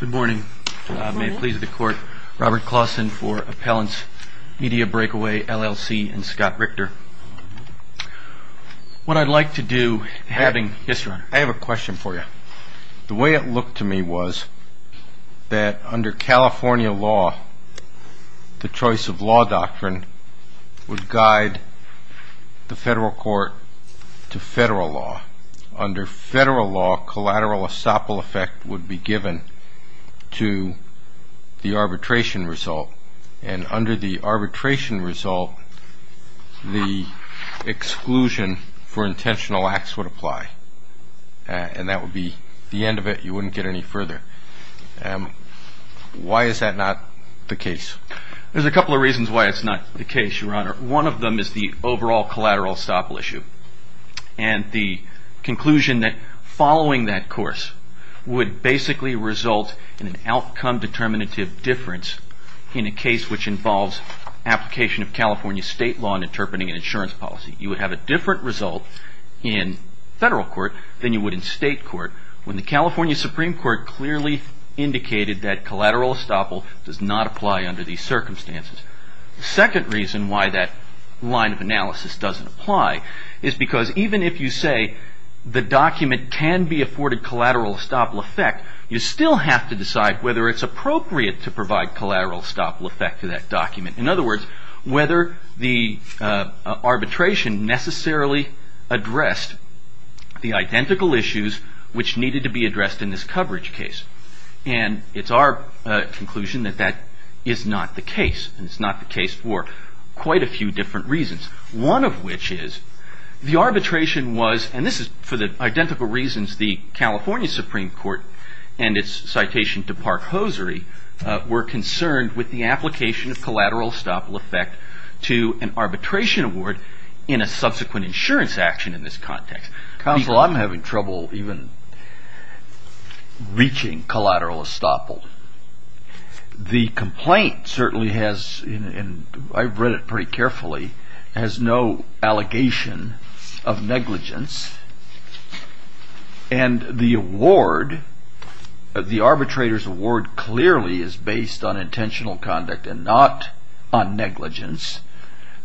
Good morning. May it please the court, Robert Clawson for Appellants, Media Breakaway, LLC, and Scott Richter. What I'd like to do, having... Yes, Your Honor. I have a question for you. The way it looked to me was that under California law, the choice of law doctrine would guide the federal court to federal law. Under federal law, collateral estoppel effect would be given to the arbitration result. And under the arbitration result, the exclusion for intentional acts would apply. And that would be the end of it. You wouldn't get any further. Why is that not the case? There's a couple of reasons why it's not the case, Your Honor. One of them is the overall collateral estoppel issue. And the conclusion that following that course would basically result in an outcome determinative difference in a case which involves application of California state law in interpreting an insurance policy. You would have a different result in federal court than you would in state court when the California Supreme Court clearly indicated that collateral estoppel does not apply under these circumstances. The second reason why that line of analysis doesn't apply is because even if you say the document can be afforded collateral estoppel effect, you still have to decide whether it's appropriate to provide collateral estoppel effect to that document. In other words, whether the arbitration necessarily addressed the identical issues which needed to be addressed in this coverage case. And it's our conclusion that that is not the case. And it's not the case for quite a few different reasons. One of which is the arbitration was, and this is for the identical reasons the California Supreme Court and its citation to Park Hosiery were concerned with the application of collateral estoppel effect to an arbitration award in a subsequent insurance action in this context. Counsel, I'm having trouble even reaching collateral estoppel. The complaint certainly has, and I've read it pretty carefully, has no allegation of negligence. And the award, the arbitrator's award clearly is based on intentional conduct and not on negligence.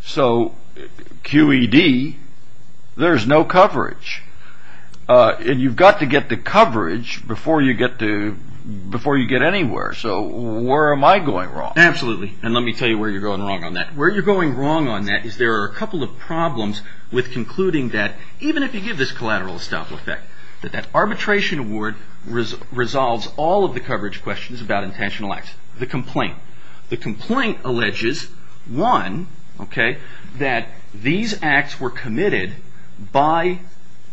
So QED, there's no coverage. And you've got to get the coverage before you get anywhere. So where am I going wrong? Absolutely. And let me tell you where you're going wrong on that. Where you're going wrong on that is there are a couple of problems with concluding that even if you give this collateral estoppel effect, that that arbitration award resolves all of the coverage questions about intentional acts. The complaint alleges, one, that these acts were committed by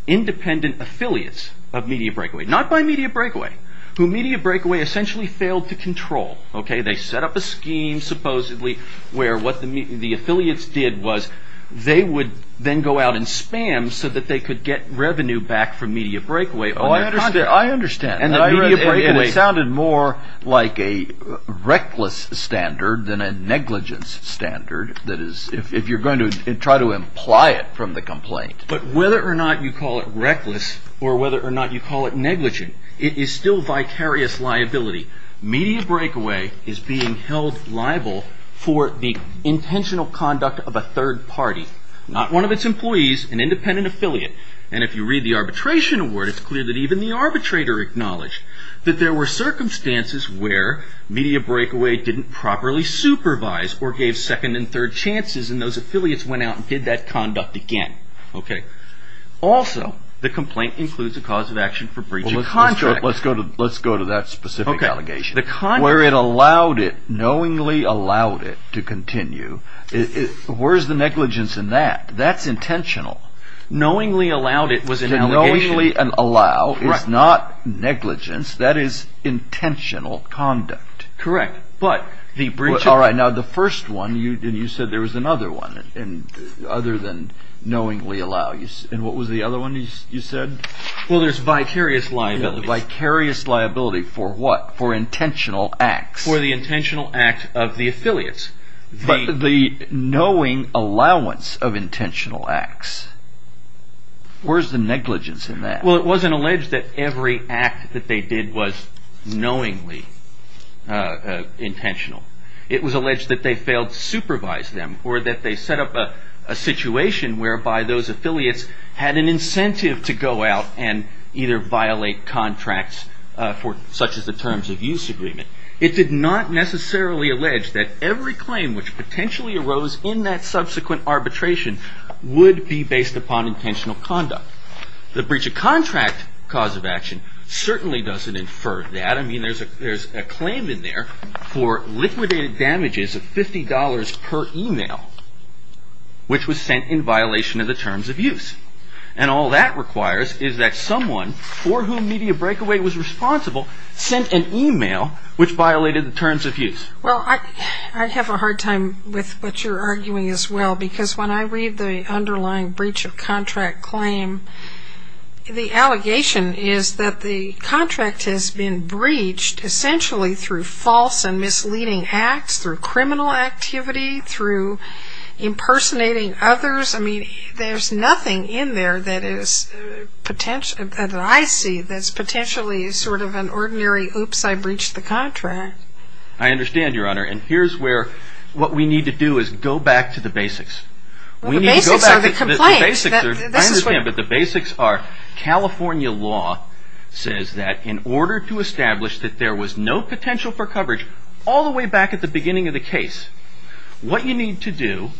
independent affiliates of Media Breakaway, not by Media Breakaway, who Media Breakaway essentially failed to control. They set up a scheme supposedly where what the affiliates did was they would then go out and spam so that they could get revenue back from Media Breakaway. I understand. It sounded more like a reckless standard than a negligence standard, if you're going to try to imply it from the complaint. But whether or not you call it reckless or whether or not you call it negligent, it is still vicarious liability. Media Breakaway is being held liable for the intentional conduct of a third party, not one of its employees, an independent affiliate. If you read the arbitration award, it's clear that even the arbitrator acknowledged that there were circumstances where Media Breakaway didn't properly supervise or gave second and third chances, and those affiliates went out and did that conduct again. Also, the complaint includes a cause of action for breach of contract. Let's go to that specific allegation. Where it allowed it, knowingly allowed it, to continue, where's the negligence in that? That's intentional. Knowingly allowed it was an allegation. Knowingly allow is not negligence. That is intentional conduct. Correct. Now, the first one, you said there was another one other than knowingly allow. What was the other one you said? Well, there's vicarious liability. Vicarious liability for what? For intentional acts. For the intentional act of the affiliates. But the knowing allowance of intentional acts, where's the negligence in that? Well, it wasn't alleged that every act that they did was knowingly intentional. It was alleged that they failed to supervise them or that they set up a situation whereby those affiliates had an incentive to go out and either violate contracts such as the Terms of Use Agreement. It did not necessarily allege that every claim which potentially arose in that subsequent arbitration would be based upon intentional conduct. The breach of contract cause of action certainly doesn't infer that. I mean, there's a claim in there for liquidated damages of $50 per email, which was sent in violation of the Terms of Use. And all that requires is that someone for whom Media Breakaway was responsible sent an email which violated the Terms of Use. Well, I have a hard time with what you're arguing as well, because when I read the underlying breach of contract claim, the allegation is that the contract has been breached essentially through false and misleading acts, through criminal activity, through impersonating others. I mean, there's nothing in there that I see that's potentially sort of an ordinary, oops, I breached the contract. I understand, Your Honor. And here's where what we need to do is go back to the basics. The basics are the complaints. I understand, but the basics are California law says that in order to establish that there was no potential for coverage all the way back at the beginning of the case, what you need to do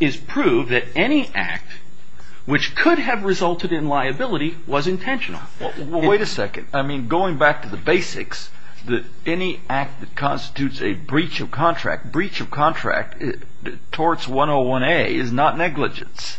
is prove that any act which could have resulted in liability was intentional. Well, wait a second. I mean, going back to the basics, that any act that constitutes a breach of contract, breach of contract, torts 101A, is not negligence.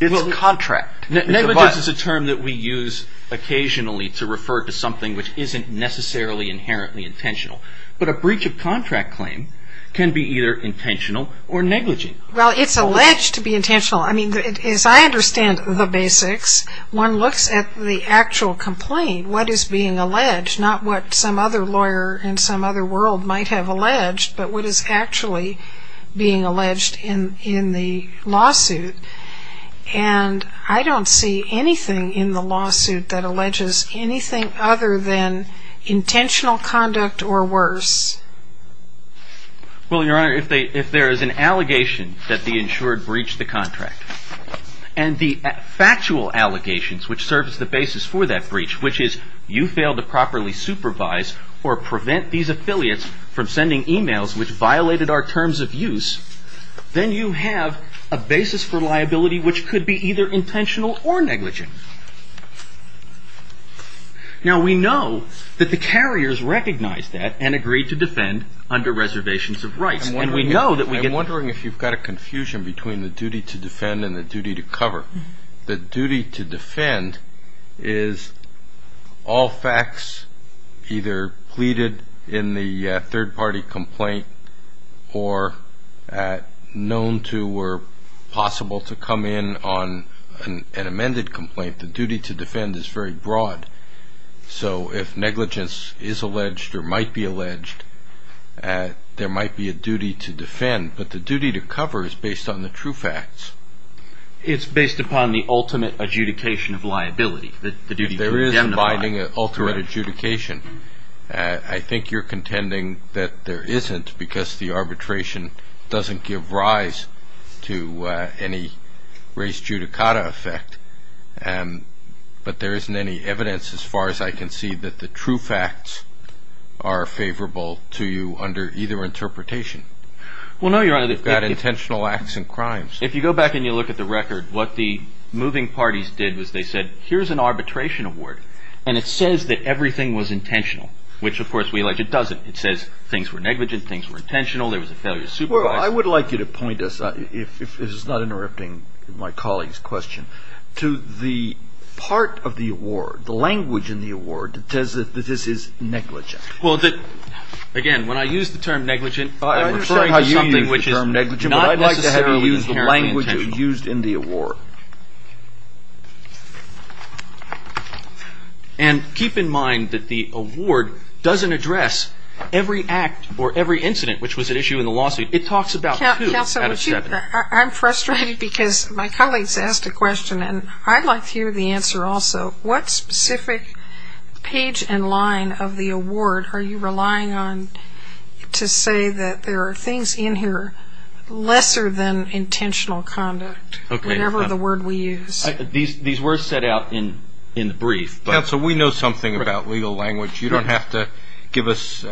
It's contract. Negligence is a term that we use occasionally to refer to something which isn't necessarily inherently intentional. But a breach of contract claim can be either intentional or negligent. Well, it's alleged to be intentional. I mean, as I understand the basics, one looks at the actual complaint, what is being alleged, not what some other lawyer in some other world might have alleged, but what is actually being alleged in the lawsuit. And I don't see anything in the lawsuit that alleges anything other than intentional conduct or worse. Well, Your Honor, if there is an allegation that the insured breached the contract and the factual allegations which serve as the basis for that breach, which is you failed to properly supervise or prevent these affiliates from sending e-mails which violated our terms of use, then you have a basis for liability which could be either intentional or negligent. Now, we know that the carriers recognized that and agreed to defend under reservations of rights. I'm wondering if you've got a confusion between the duty to defend and the duty to cover. The duty to defend is all facts either pleaded in the third-party complaint or known to or possible to come in on an amended complaint. The duty to defend is very broad. So if negligence is alleged or might be alleged, there might be a duty to defend. But the duty to cover is based on the true facts. It's based upon the ultimate adjudication of liability. There is a binding ultimate adjudication. I think you're contending that there isn't because the arbitration doesn't give rise to any race judicata effect. But there isn't any evidence as far as I can see that the true facts are favorable to you under either interpretation. Well, no, Your Honor. You've got intentional acts and crimes. If you go back and you look at the record, what the moving parties did was they said, here's an arbitration award, and it says that everything was intentional, which, of course, we allege it doesn't. It says things were negligent, things were intentional, there was a failure to supervise. Well, I would like you to point us, if this is not interrupting my colleague's question, to the part of the award, the language in the award that says that this is negligent. Well, again, when I use the term negligent, I'm referring to something which is not necessarily inherent. The language used in the award. And keep in mind that the award doesn't address every act or every incident which was at issue in the lawsuit. It talks about two out of seven. Counsel, I'm frustrated because my colleague's asked a question, and I'd like to hear the answer also. What specific page and line of the award are you relying on to say that there are things in here lesser than intentional conduct, whatever the word we use? These words set out in the brief. Counsel, we know something about legal language. You don't have to give us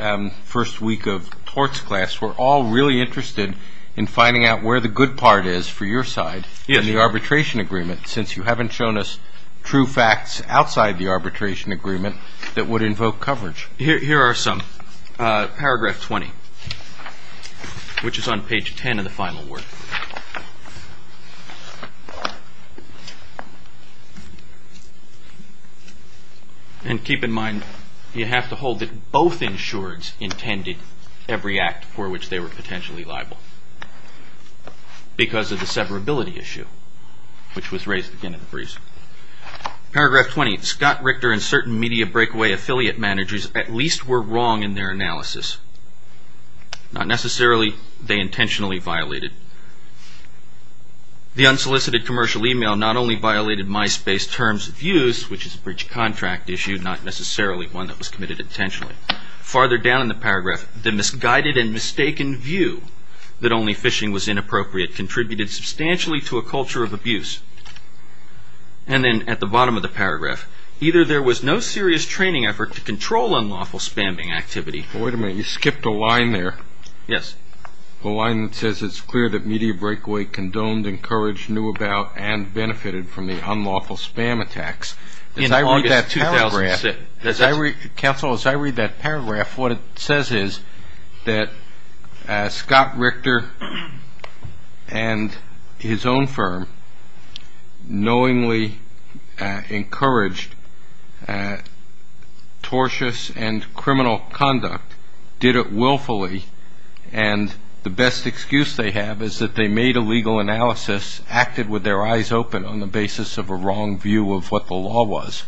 first week of torts class. We're all really interested in finding out where the good part is for your side in the arbitration agreement, since you haven't shown us true facts outside the arbitration agreement that would invoke coverage. Here are some. Paragraph 20, which is on page 10 of the final word. And keep in mind, you have to hold that both insureds intended every act for which they were potentially liable, because of the severability issue, which was raised again in the briefs. Paragraph 20, Scott Richter and certain media breakaway affiliate managers at least were wrong in their analysis. Not necessarily, they intentionally violated. The unsolicited commercial email not only violated MySpace terms of use, which is a bridge contract issue, not necessarily one that was committed intentionally. Farther down in the paragraph, the misguided and mistaken view that only phishing was inappropriate contributed substantially to a culture of abuse. And then at the bottom of the paragraph, either there was no serious training effort to control unlawful spamming activity. Wait a minute, you skipped a line there. Yes. The line that says it's clear that media breakaway condoned, encouraged, knew about, and benefited from the unlawful spam attacks. In August 2006. Counsel, as I read that paragraph, what it says is that Scott Richter and his own firm knowingly encouraged tortious and criminal conduct, did it willfully, and the best excuse they have is that they made a legal analysis, acted with their eyes open on the basis of a wrong view of what the law was.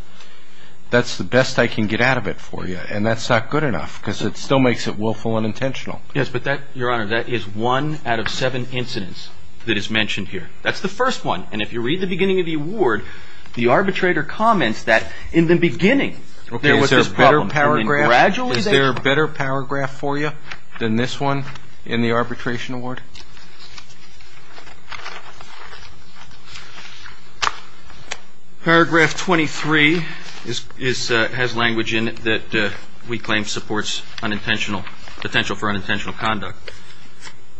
That's the best I can get out of it for you. And that's not good enough because it still makes it willful and unintentional. Yes, but that, Your Honor, that is one out of seven incidents that is mentioned here. That's the first one. And if you read the beginning of the award, the arbitrator comments that in the beginning. Is there a better paragraph for you than this one in the arbitration award? All right. Paragraph 23 has language in it that we claim supports potential for unintentional conduct.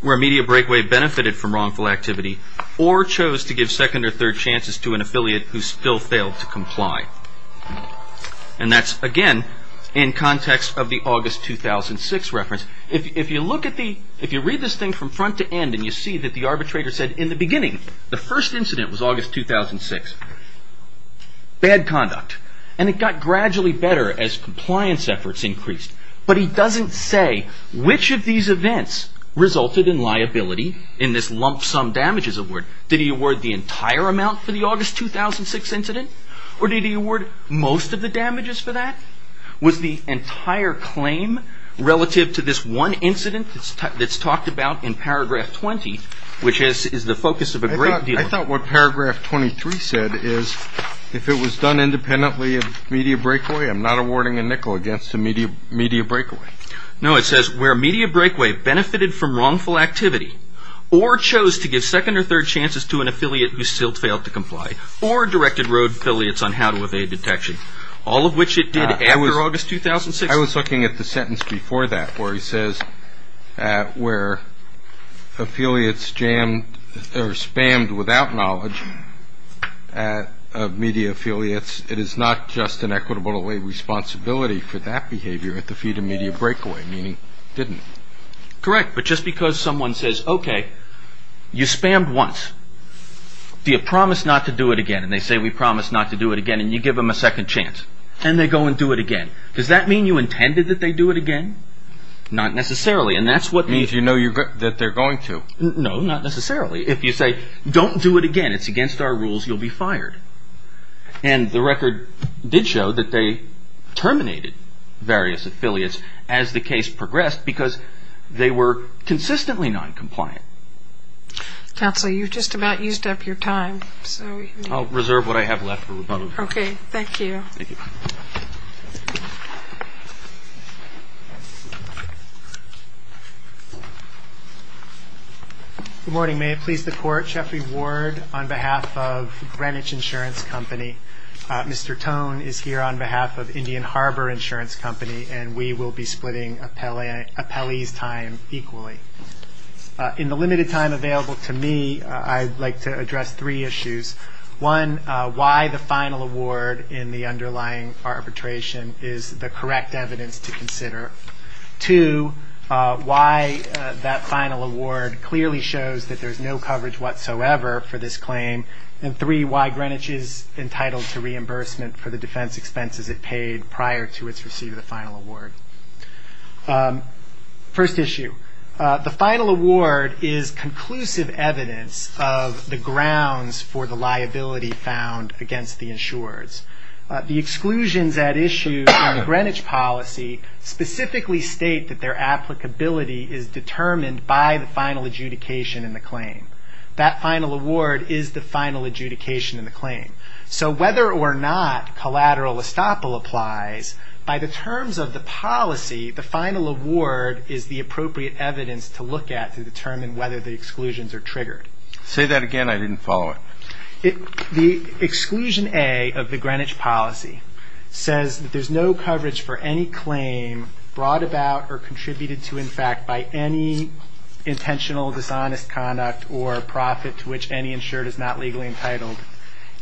Where media breakaway benefited from wrongful activity or chose to give second or third chances to an affiliate who still failed to comply. And that's, again, in context of the August 2006 reference. If you look at the, if you read this thing from front to end, and you see that the arbitrator said in the beginning, the first incident was August 2006. Bad conduct. And it got gradually better as compliance efforts increased. But he doesn't say which of these events resulted in liability in this lump sum damages award. Did he award the entire amount for the August 2006 incident? Or did he award most of the damages for that? Was the entire claim relative to this one incident that's talked about in paragraph 20, which is the focus of a great deal of work. I thought what paragraph 23 said is if it was done independently of media breakaway, I'm not awarding a nickel against a media breakaway. No, it says where media breakaway benefited from wrongful activity or chose to give second or third chances to an affiliate who still failed to comply or directed road affiliates on how to evade detection. All of which it did after August 2006. I was looking at the sentence before that where he says where affiliates jammed or spammed without knowledge of media affiliates. It is not just an equitable responsibility for that behavior at the feet of media breakaway, meaning didn't. Correct, but just because someone says, okay, you spammed once. Do you promise not to do it again? And they say we promise not to do it again, and you give them a second chance. And they go and do it again. Does that mean you intended that they do it again? Not necessarily, and that's what means you know that they're going to. No, not necessarily. If you say don't do it again, it's against our rules, you'll be fired. And the record did show that they terminated various affiliates as the case progressed because they were consistently noncompliant. Counsel, you've just about used up your time. I'll reserve what I have left for rebuttal. Okay, thank you. Thank you. Good morning. May it please the Court, Jeffrey Ward on behalf of Greenwich Insurance Company. Mr. Tone is here on behalf of Indian Harbor Insurance Company, and we will be splitting appellees' time equally. In the limited time available to me, I'd like to address three issues. One, why the final award in the underlying arbitration is the correct evidence to consider. Two, why that final award clearly shows that there's no coverage whatsoever for this claim. And three, why Greenwich is entitled to reimbursement for the defense expenses it paid prior to its receiving the final award. First issue, the final award is conclusive evidence of the grounds for the liability found against the insurers. The exclusions at issue in the Greenwich policy specifically state that their applicability is determined by the final adjudication in the claim. That final award is the final adjudication in the claim. So whether or not collateral estoppel applies, by the terms of the policy, the final award is the appropriate evidence to look at to determine whether the exclusions are triggered. Say that again. I didn't follow it. The exclusion A of the Greenwich policy says that there's no coverage for any claim brought about or contributed to, in fact, by any intentional dishonest conduct or profit to which any insured is not legally entitled,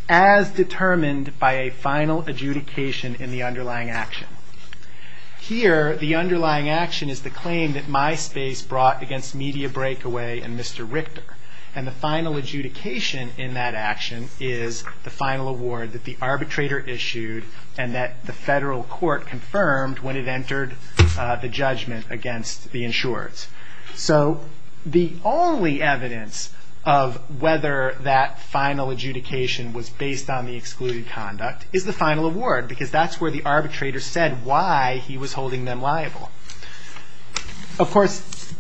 as determined by a final adjudication in the underlying action. Here, the underlying action is the claim that MySpace brought against Media Breakaway and Mr. Richter. And the final adjudication in that action is the final award that the arbitrator issued and that the federal court confirmed when it entered the judgment against the insurers. So the only evidence of whether that final adjudication was based on the excluded conduct is the final award because that's where the arbitrator said why he was holding them liable. Of course,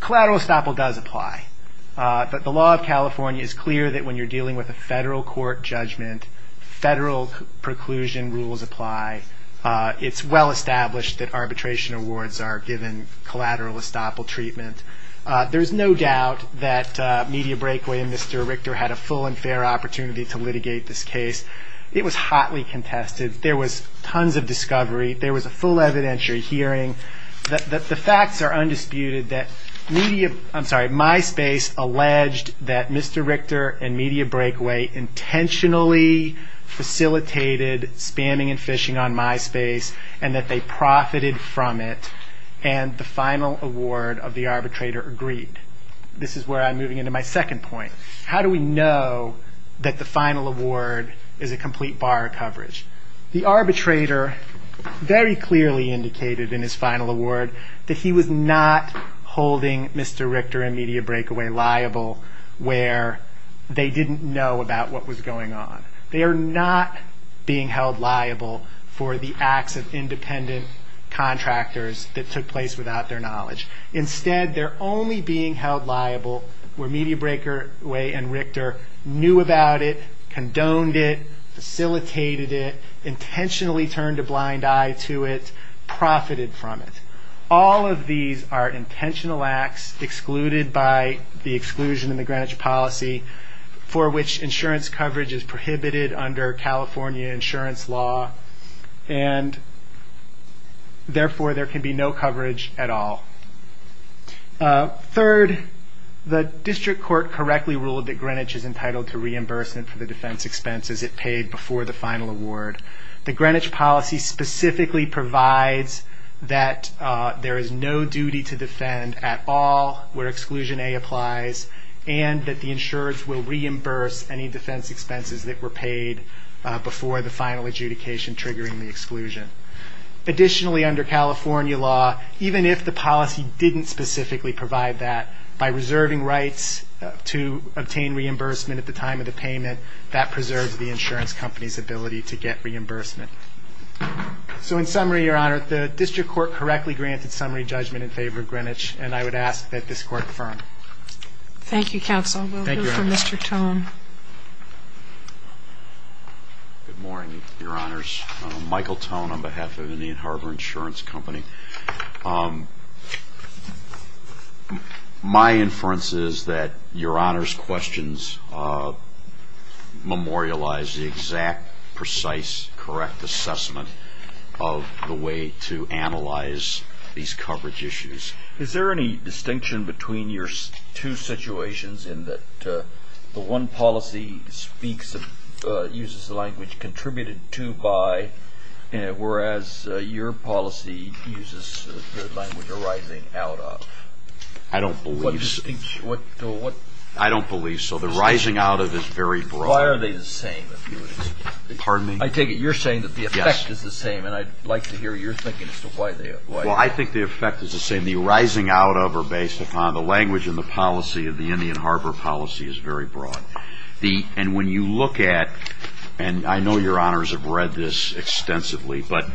collateral estoppel does apply. But the law of California is clear that when you're dealing with a federal court judgment, federal preclusion rules apply. It's well established that arbitration awards are given collateral estoppel treatment. There's no doubt that Media Breakaway and Mr. Richter had a full and fair opportunity to litigate this case. It was hotly contested. There was tons of discovery. There was a full evidentiary hearing. The facts are undisputed that Media – I'm sorry, MySpace alleged that Mr. Richter and Media Breakaway intentionally facilitated spamming and phishing on MySpace and that they profited from it, and the final award of the arbitrator agreed. This is where I'm moving into my second point. How do we know that the final award is a complete bar of coverage? The arbitrator very clearly indicated in his final award that he was not holding Mr. Richter and Media Breakaway liable where they didn't know about what was going on. They are not being held liable for the acts of independent contractors that took place without their knowledge. Instead, they're only being held liable where Media Breakaway and Richter knew about it, condoned it, facilitated it, intentionally turned a blind eye to it, profited from it. All of these are intentional acts excluded by the exclusion in the Greenwich policy for which insurance coverage is prohibited under California insurance law, and therefore there can be no coverage at all. Third, the district court correctly ruled that Greenwich is entitled to reimbursement for the defense expenses it paid before the final award. The Greenwich policy specifically provides that there is no duty to defend at all where exclusion A applies and that the insurers will reimburse any defense expenses that were paid before the final adjudication triggering the exclusion. Additionally, under California law, even if the policy didn't specifically provide that, by reserving rights to obtain reimbursement at the time of the payment, that preserves the insurance company's ability to get reimbursement. So in summary, Your Honor, the district court correctly granted summary judgment in favor of Greenwich, and I would ask that this court confirm. Thank you, counsel. We'll go for Mr. Tone. Good morning, Your Honors. Michael Tone on behalf of Indian Harbor Insurance Company. My inference is that Your Honor's questions memorialize the exact, precise, correct assessment of the way to analyze these coverage issues. Is there any distinction between your two situations in that the one policy speaks, uses the language contributed to by, whereas your policy uses the language arising out of? I don't believe so. I don't believe so. The rising out of is very broad. Why are they the same? Pardon me? I take it you're saying that the effect is the same, and I'd like to hear your thinking as to why. Well, I think the effect is the same. The arising out of are based upon the language and the policy of the Indian Harbor policy is very broad. And when you look at, and I know Your Honors have read this extensively, but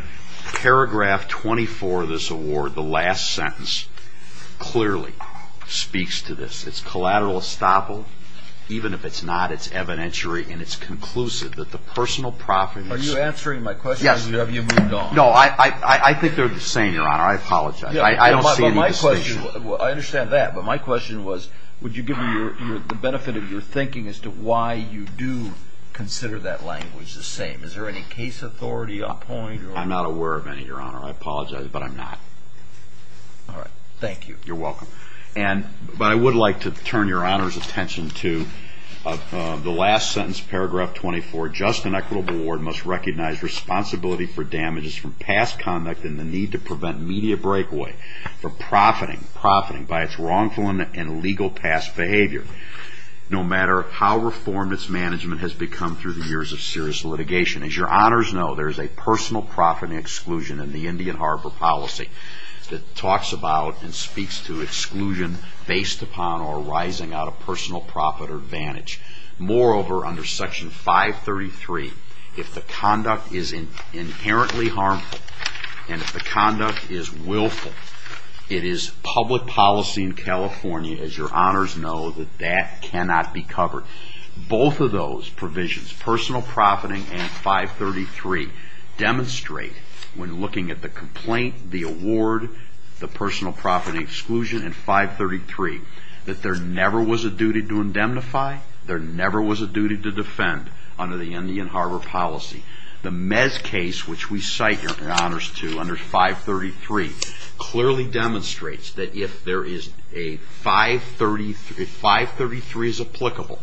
paragraph 24 of this award, the last sentence, clearly speaks to this. It's collateral estoppel. Even if it's not, it's evidentiary and it's conclusive that the personal profits Are you answering my question, or have you moved on? No, I think they're the same, Your Honor. I apologize. I don't see the distinction. I understand that, but my question was, would you give me the benefit of your thinking as to why you do consider that language the same? Is there any case authority on the point? I'm not aware of any, Your Honor. I apologize, but I'm not. All right. Thank you. You're welcome. But I would like to turn Your Honor's attention to the last sentence, paragraph 24. Just an equitable award must recognize responsibility for damages from past conduct and the need to prevent media breakaway from profiting by its wrongful and illegal past behavior, no matter how reformed its management has become through the years of serious litigation. As Your Honors know, there is a personal profit exclusion in the Indian Harbor policy that talks about and speaks to exclusion based upon or arising out of personal profit or advantage. Moreover, under Section 533, if the conduct is inherently harmful and if the conduct is willful, it is public policy in California, as Your Honors know, that that cannot be covered. Both of those provisions, personal profiting and 533, demonstrate when looking at the complaint, the award, the personal profit exclusion, and 533, that there never was a duty to indemnify, there never was a duty to defend under the Indian Harbor policy. The Mez case, which we cite in Honors 2 under 533, clearly demonstrates that if 533 is applicable,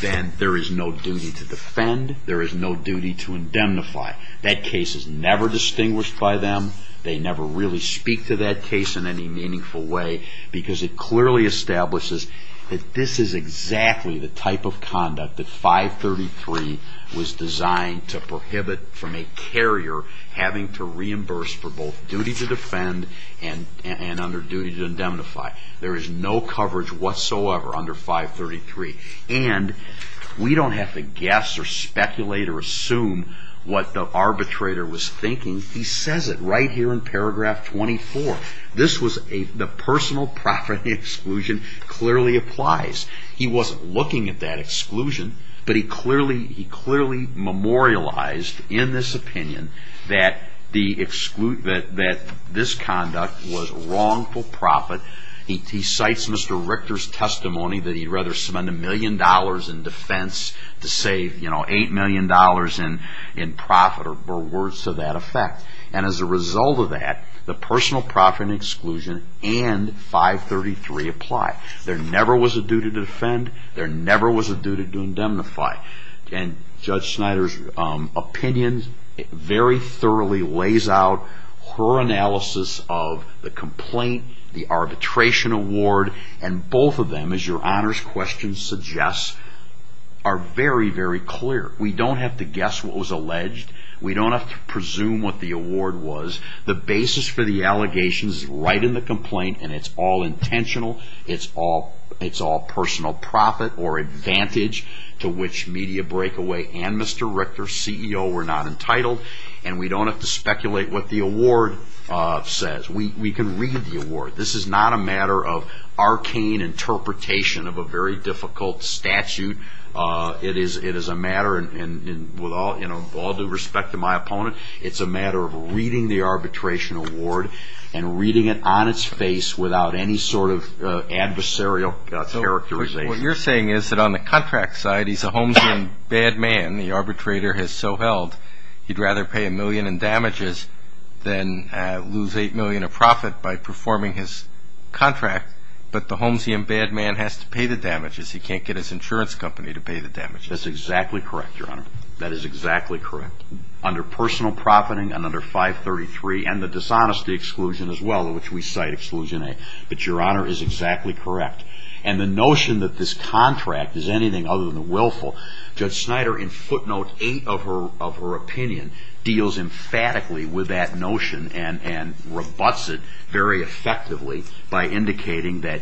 then there is no duty to defend, there is no duty to indemnify. That case is never distinguished by them, they never really speak to that case in any meaningful way, because it clearly establishes that this is exactly the type of conduct that 533 was designed to prohibit from a carrier having to reimburse for both duty to defend and under duty to indemnify. There is no coverage whatsoever under 533. And we don't have to guess or speculate or assume what the arbitrator was thinking. He says it right here in paragraph 24. The personal profit exclusion clearly applies. He wasn't looking at that exclusion, but he clearly memorialized in this opinion that this conduct was wrongful profit. He cites Mr. Richter's testimony that he'd rather spend a million dollars in defense to save, you know, $8 million in profit or words to that effect. And as a result of that, the personal profit exclusion and 533 apply. There never was a duty to defend, there never was a duty to indemnify. And Judge Snyder's opinion very thoroughly lays out her analysis of the complaint, the arbitration award, and both of them, as your honors question suggests, are very, very clear. We don't have to guess what was alleged. We don't have to presume what the award was. The basis for the allegations is right in the complaint, and it's all intentional. It's all personal profit or advantage to which Media Breakaway and Mr. Richter, CEO, were not entitled. And we don't have to speculate what the award says. We can read the award. This is not a matter of arcane interpretation of a very difficult statute. It is a matter, and with all due respect to my opponent, it's a matter of reading the arbitration award and reading it on its face without any sort of adversarial characterization. So what you're saying is that on the contract side, he's a Holmesian bad man, the arbitrator has so held, he'd rather pay a million in damages than lose $8 million of profit by performing his contract, but the Holmesian bad man has to pay the damages. He can't get his insurance company to pay the damages. That's exactly correct, your honor. That is exactly correct. Under personal profiting and under 533 and the dishonesty exclusion as well, which we cite exclusion A. But your honor is exactly correct. And the notion that this contract is anything other than willful, Judge Snyder, in footnote 8 of her opinion, deals emphatically with that notion and rebutts it very effectively by indicating that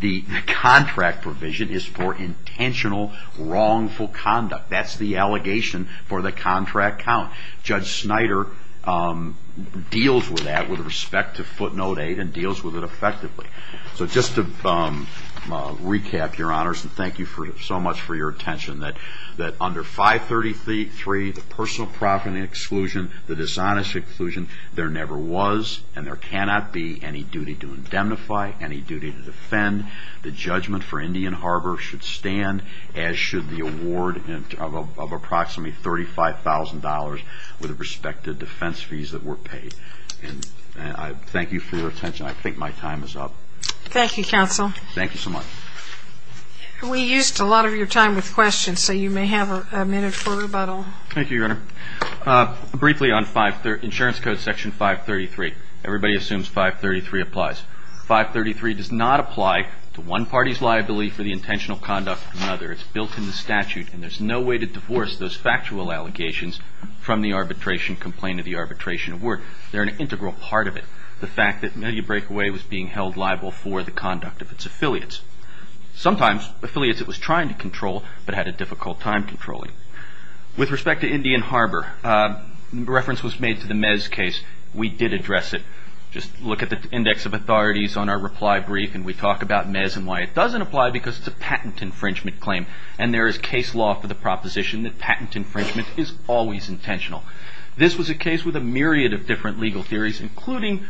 the contract provision is for intentional, wrongful conduct. That's the allegation for the contract count. Judge Snyder deals with that with respect to footnote 8 and deals with it effectively. So just to recap, your honors, and thank you so much for your attention, that under 533, the personal profiting exclusion, the dishonesty exclusion, there never was and there cannot be any duty to indemnify, any duty to defend. The judgment for Indian Harbor should stand as should the award of approximately $35,000 with respect to defense fees that were paid. And I thank you for your attention. I think my time is up. Thank you, counsel. Thank you so much. We used a lot of your time with questions, so you may have a minute for rebuttal. Thank you, your honor. Briefly on insurance code section 533. Everybody assumes 533 applies. 533 does not apply to one party's liability for the intentional conduct of another. It's built in the statute, and there's no way to divorce those factual allegations from the arbitration complaint or the arbitration award. They're an integral part of it. The fact that Milley Breakaway was being held liable for the conduct of its affiliates. Sometimes affiliates it was trying to control but had a difficult time controlling. With respect to Indian Harbor, reference was made to the Mez case. We did address it. Just look at the index of authorities on our reply brief, and we talk about Mez and why it doesn't apply because it's a patent infringement claim. And there is case law for the proposition that patent infringement is always intentional. This was a case with a myriad of different legal theories, including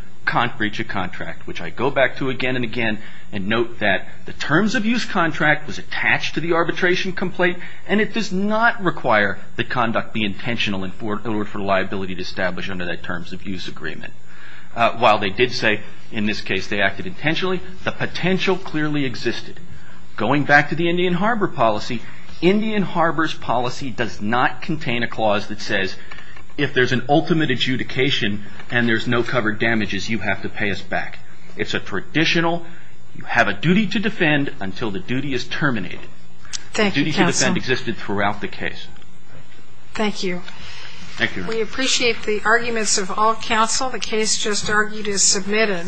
breach of contract, which I go back to again and again and note that the terms of use contract was attached to the arbitration complaint, and it does not require the conduct be intentional in order for liability to be established under that terms of use agreement. While they did say in this case they acted intentionally, the potential clearly existed. Going back to the Indian Harbor policy, Indian Harbor's policy does not contain a clause that says if there's an ultimate adjudication and there's no covered damages, you have to pay us back. It's a traditional, you have a duty to defend until the duty is terminated. Thank you, counsel. The duty to defend existed throughout the case. Thank you. Thank you. We appreciate the arguments of all counsel. The case just argued is submitted.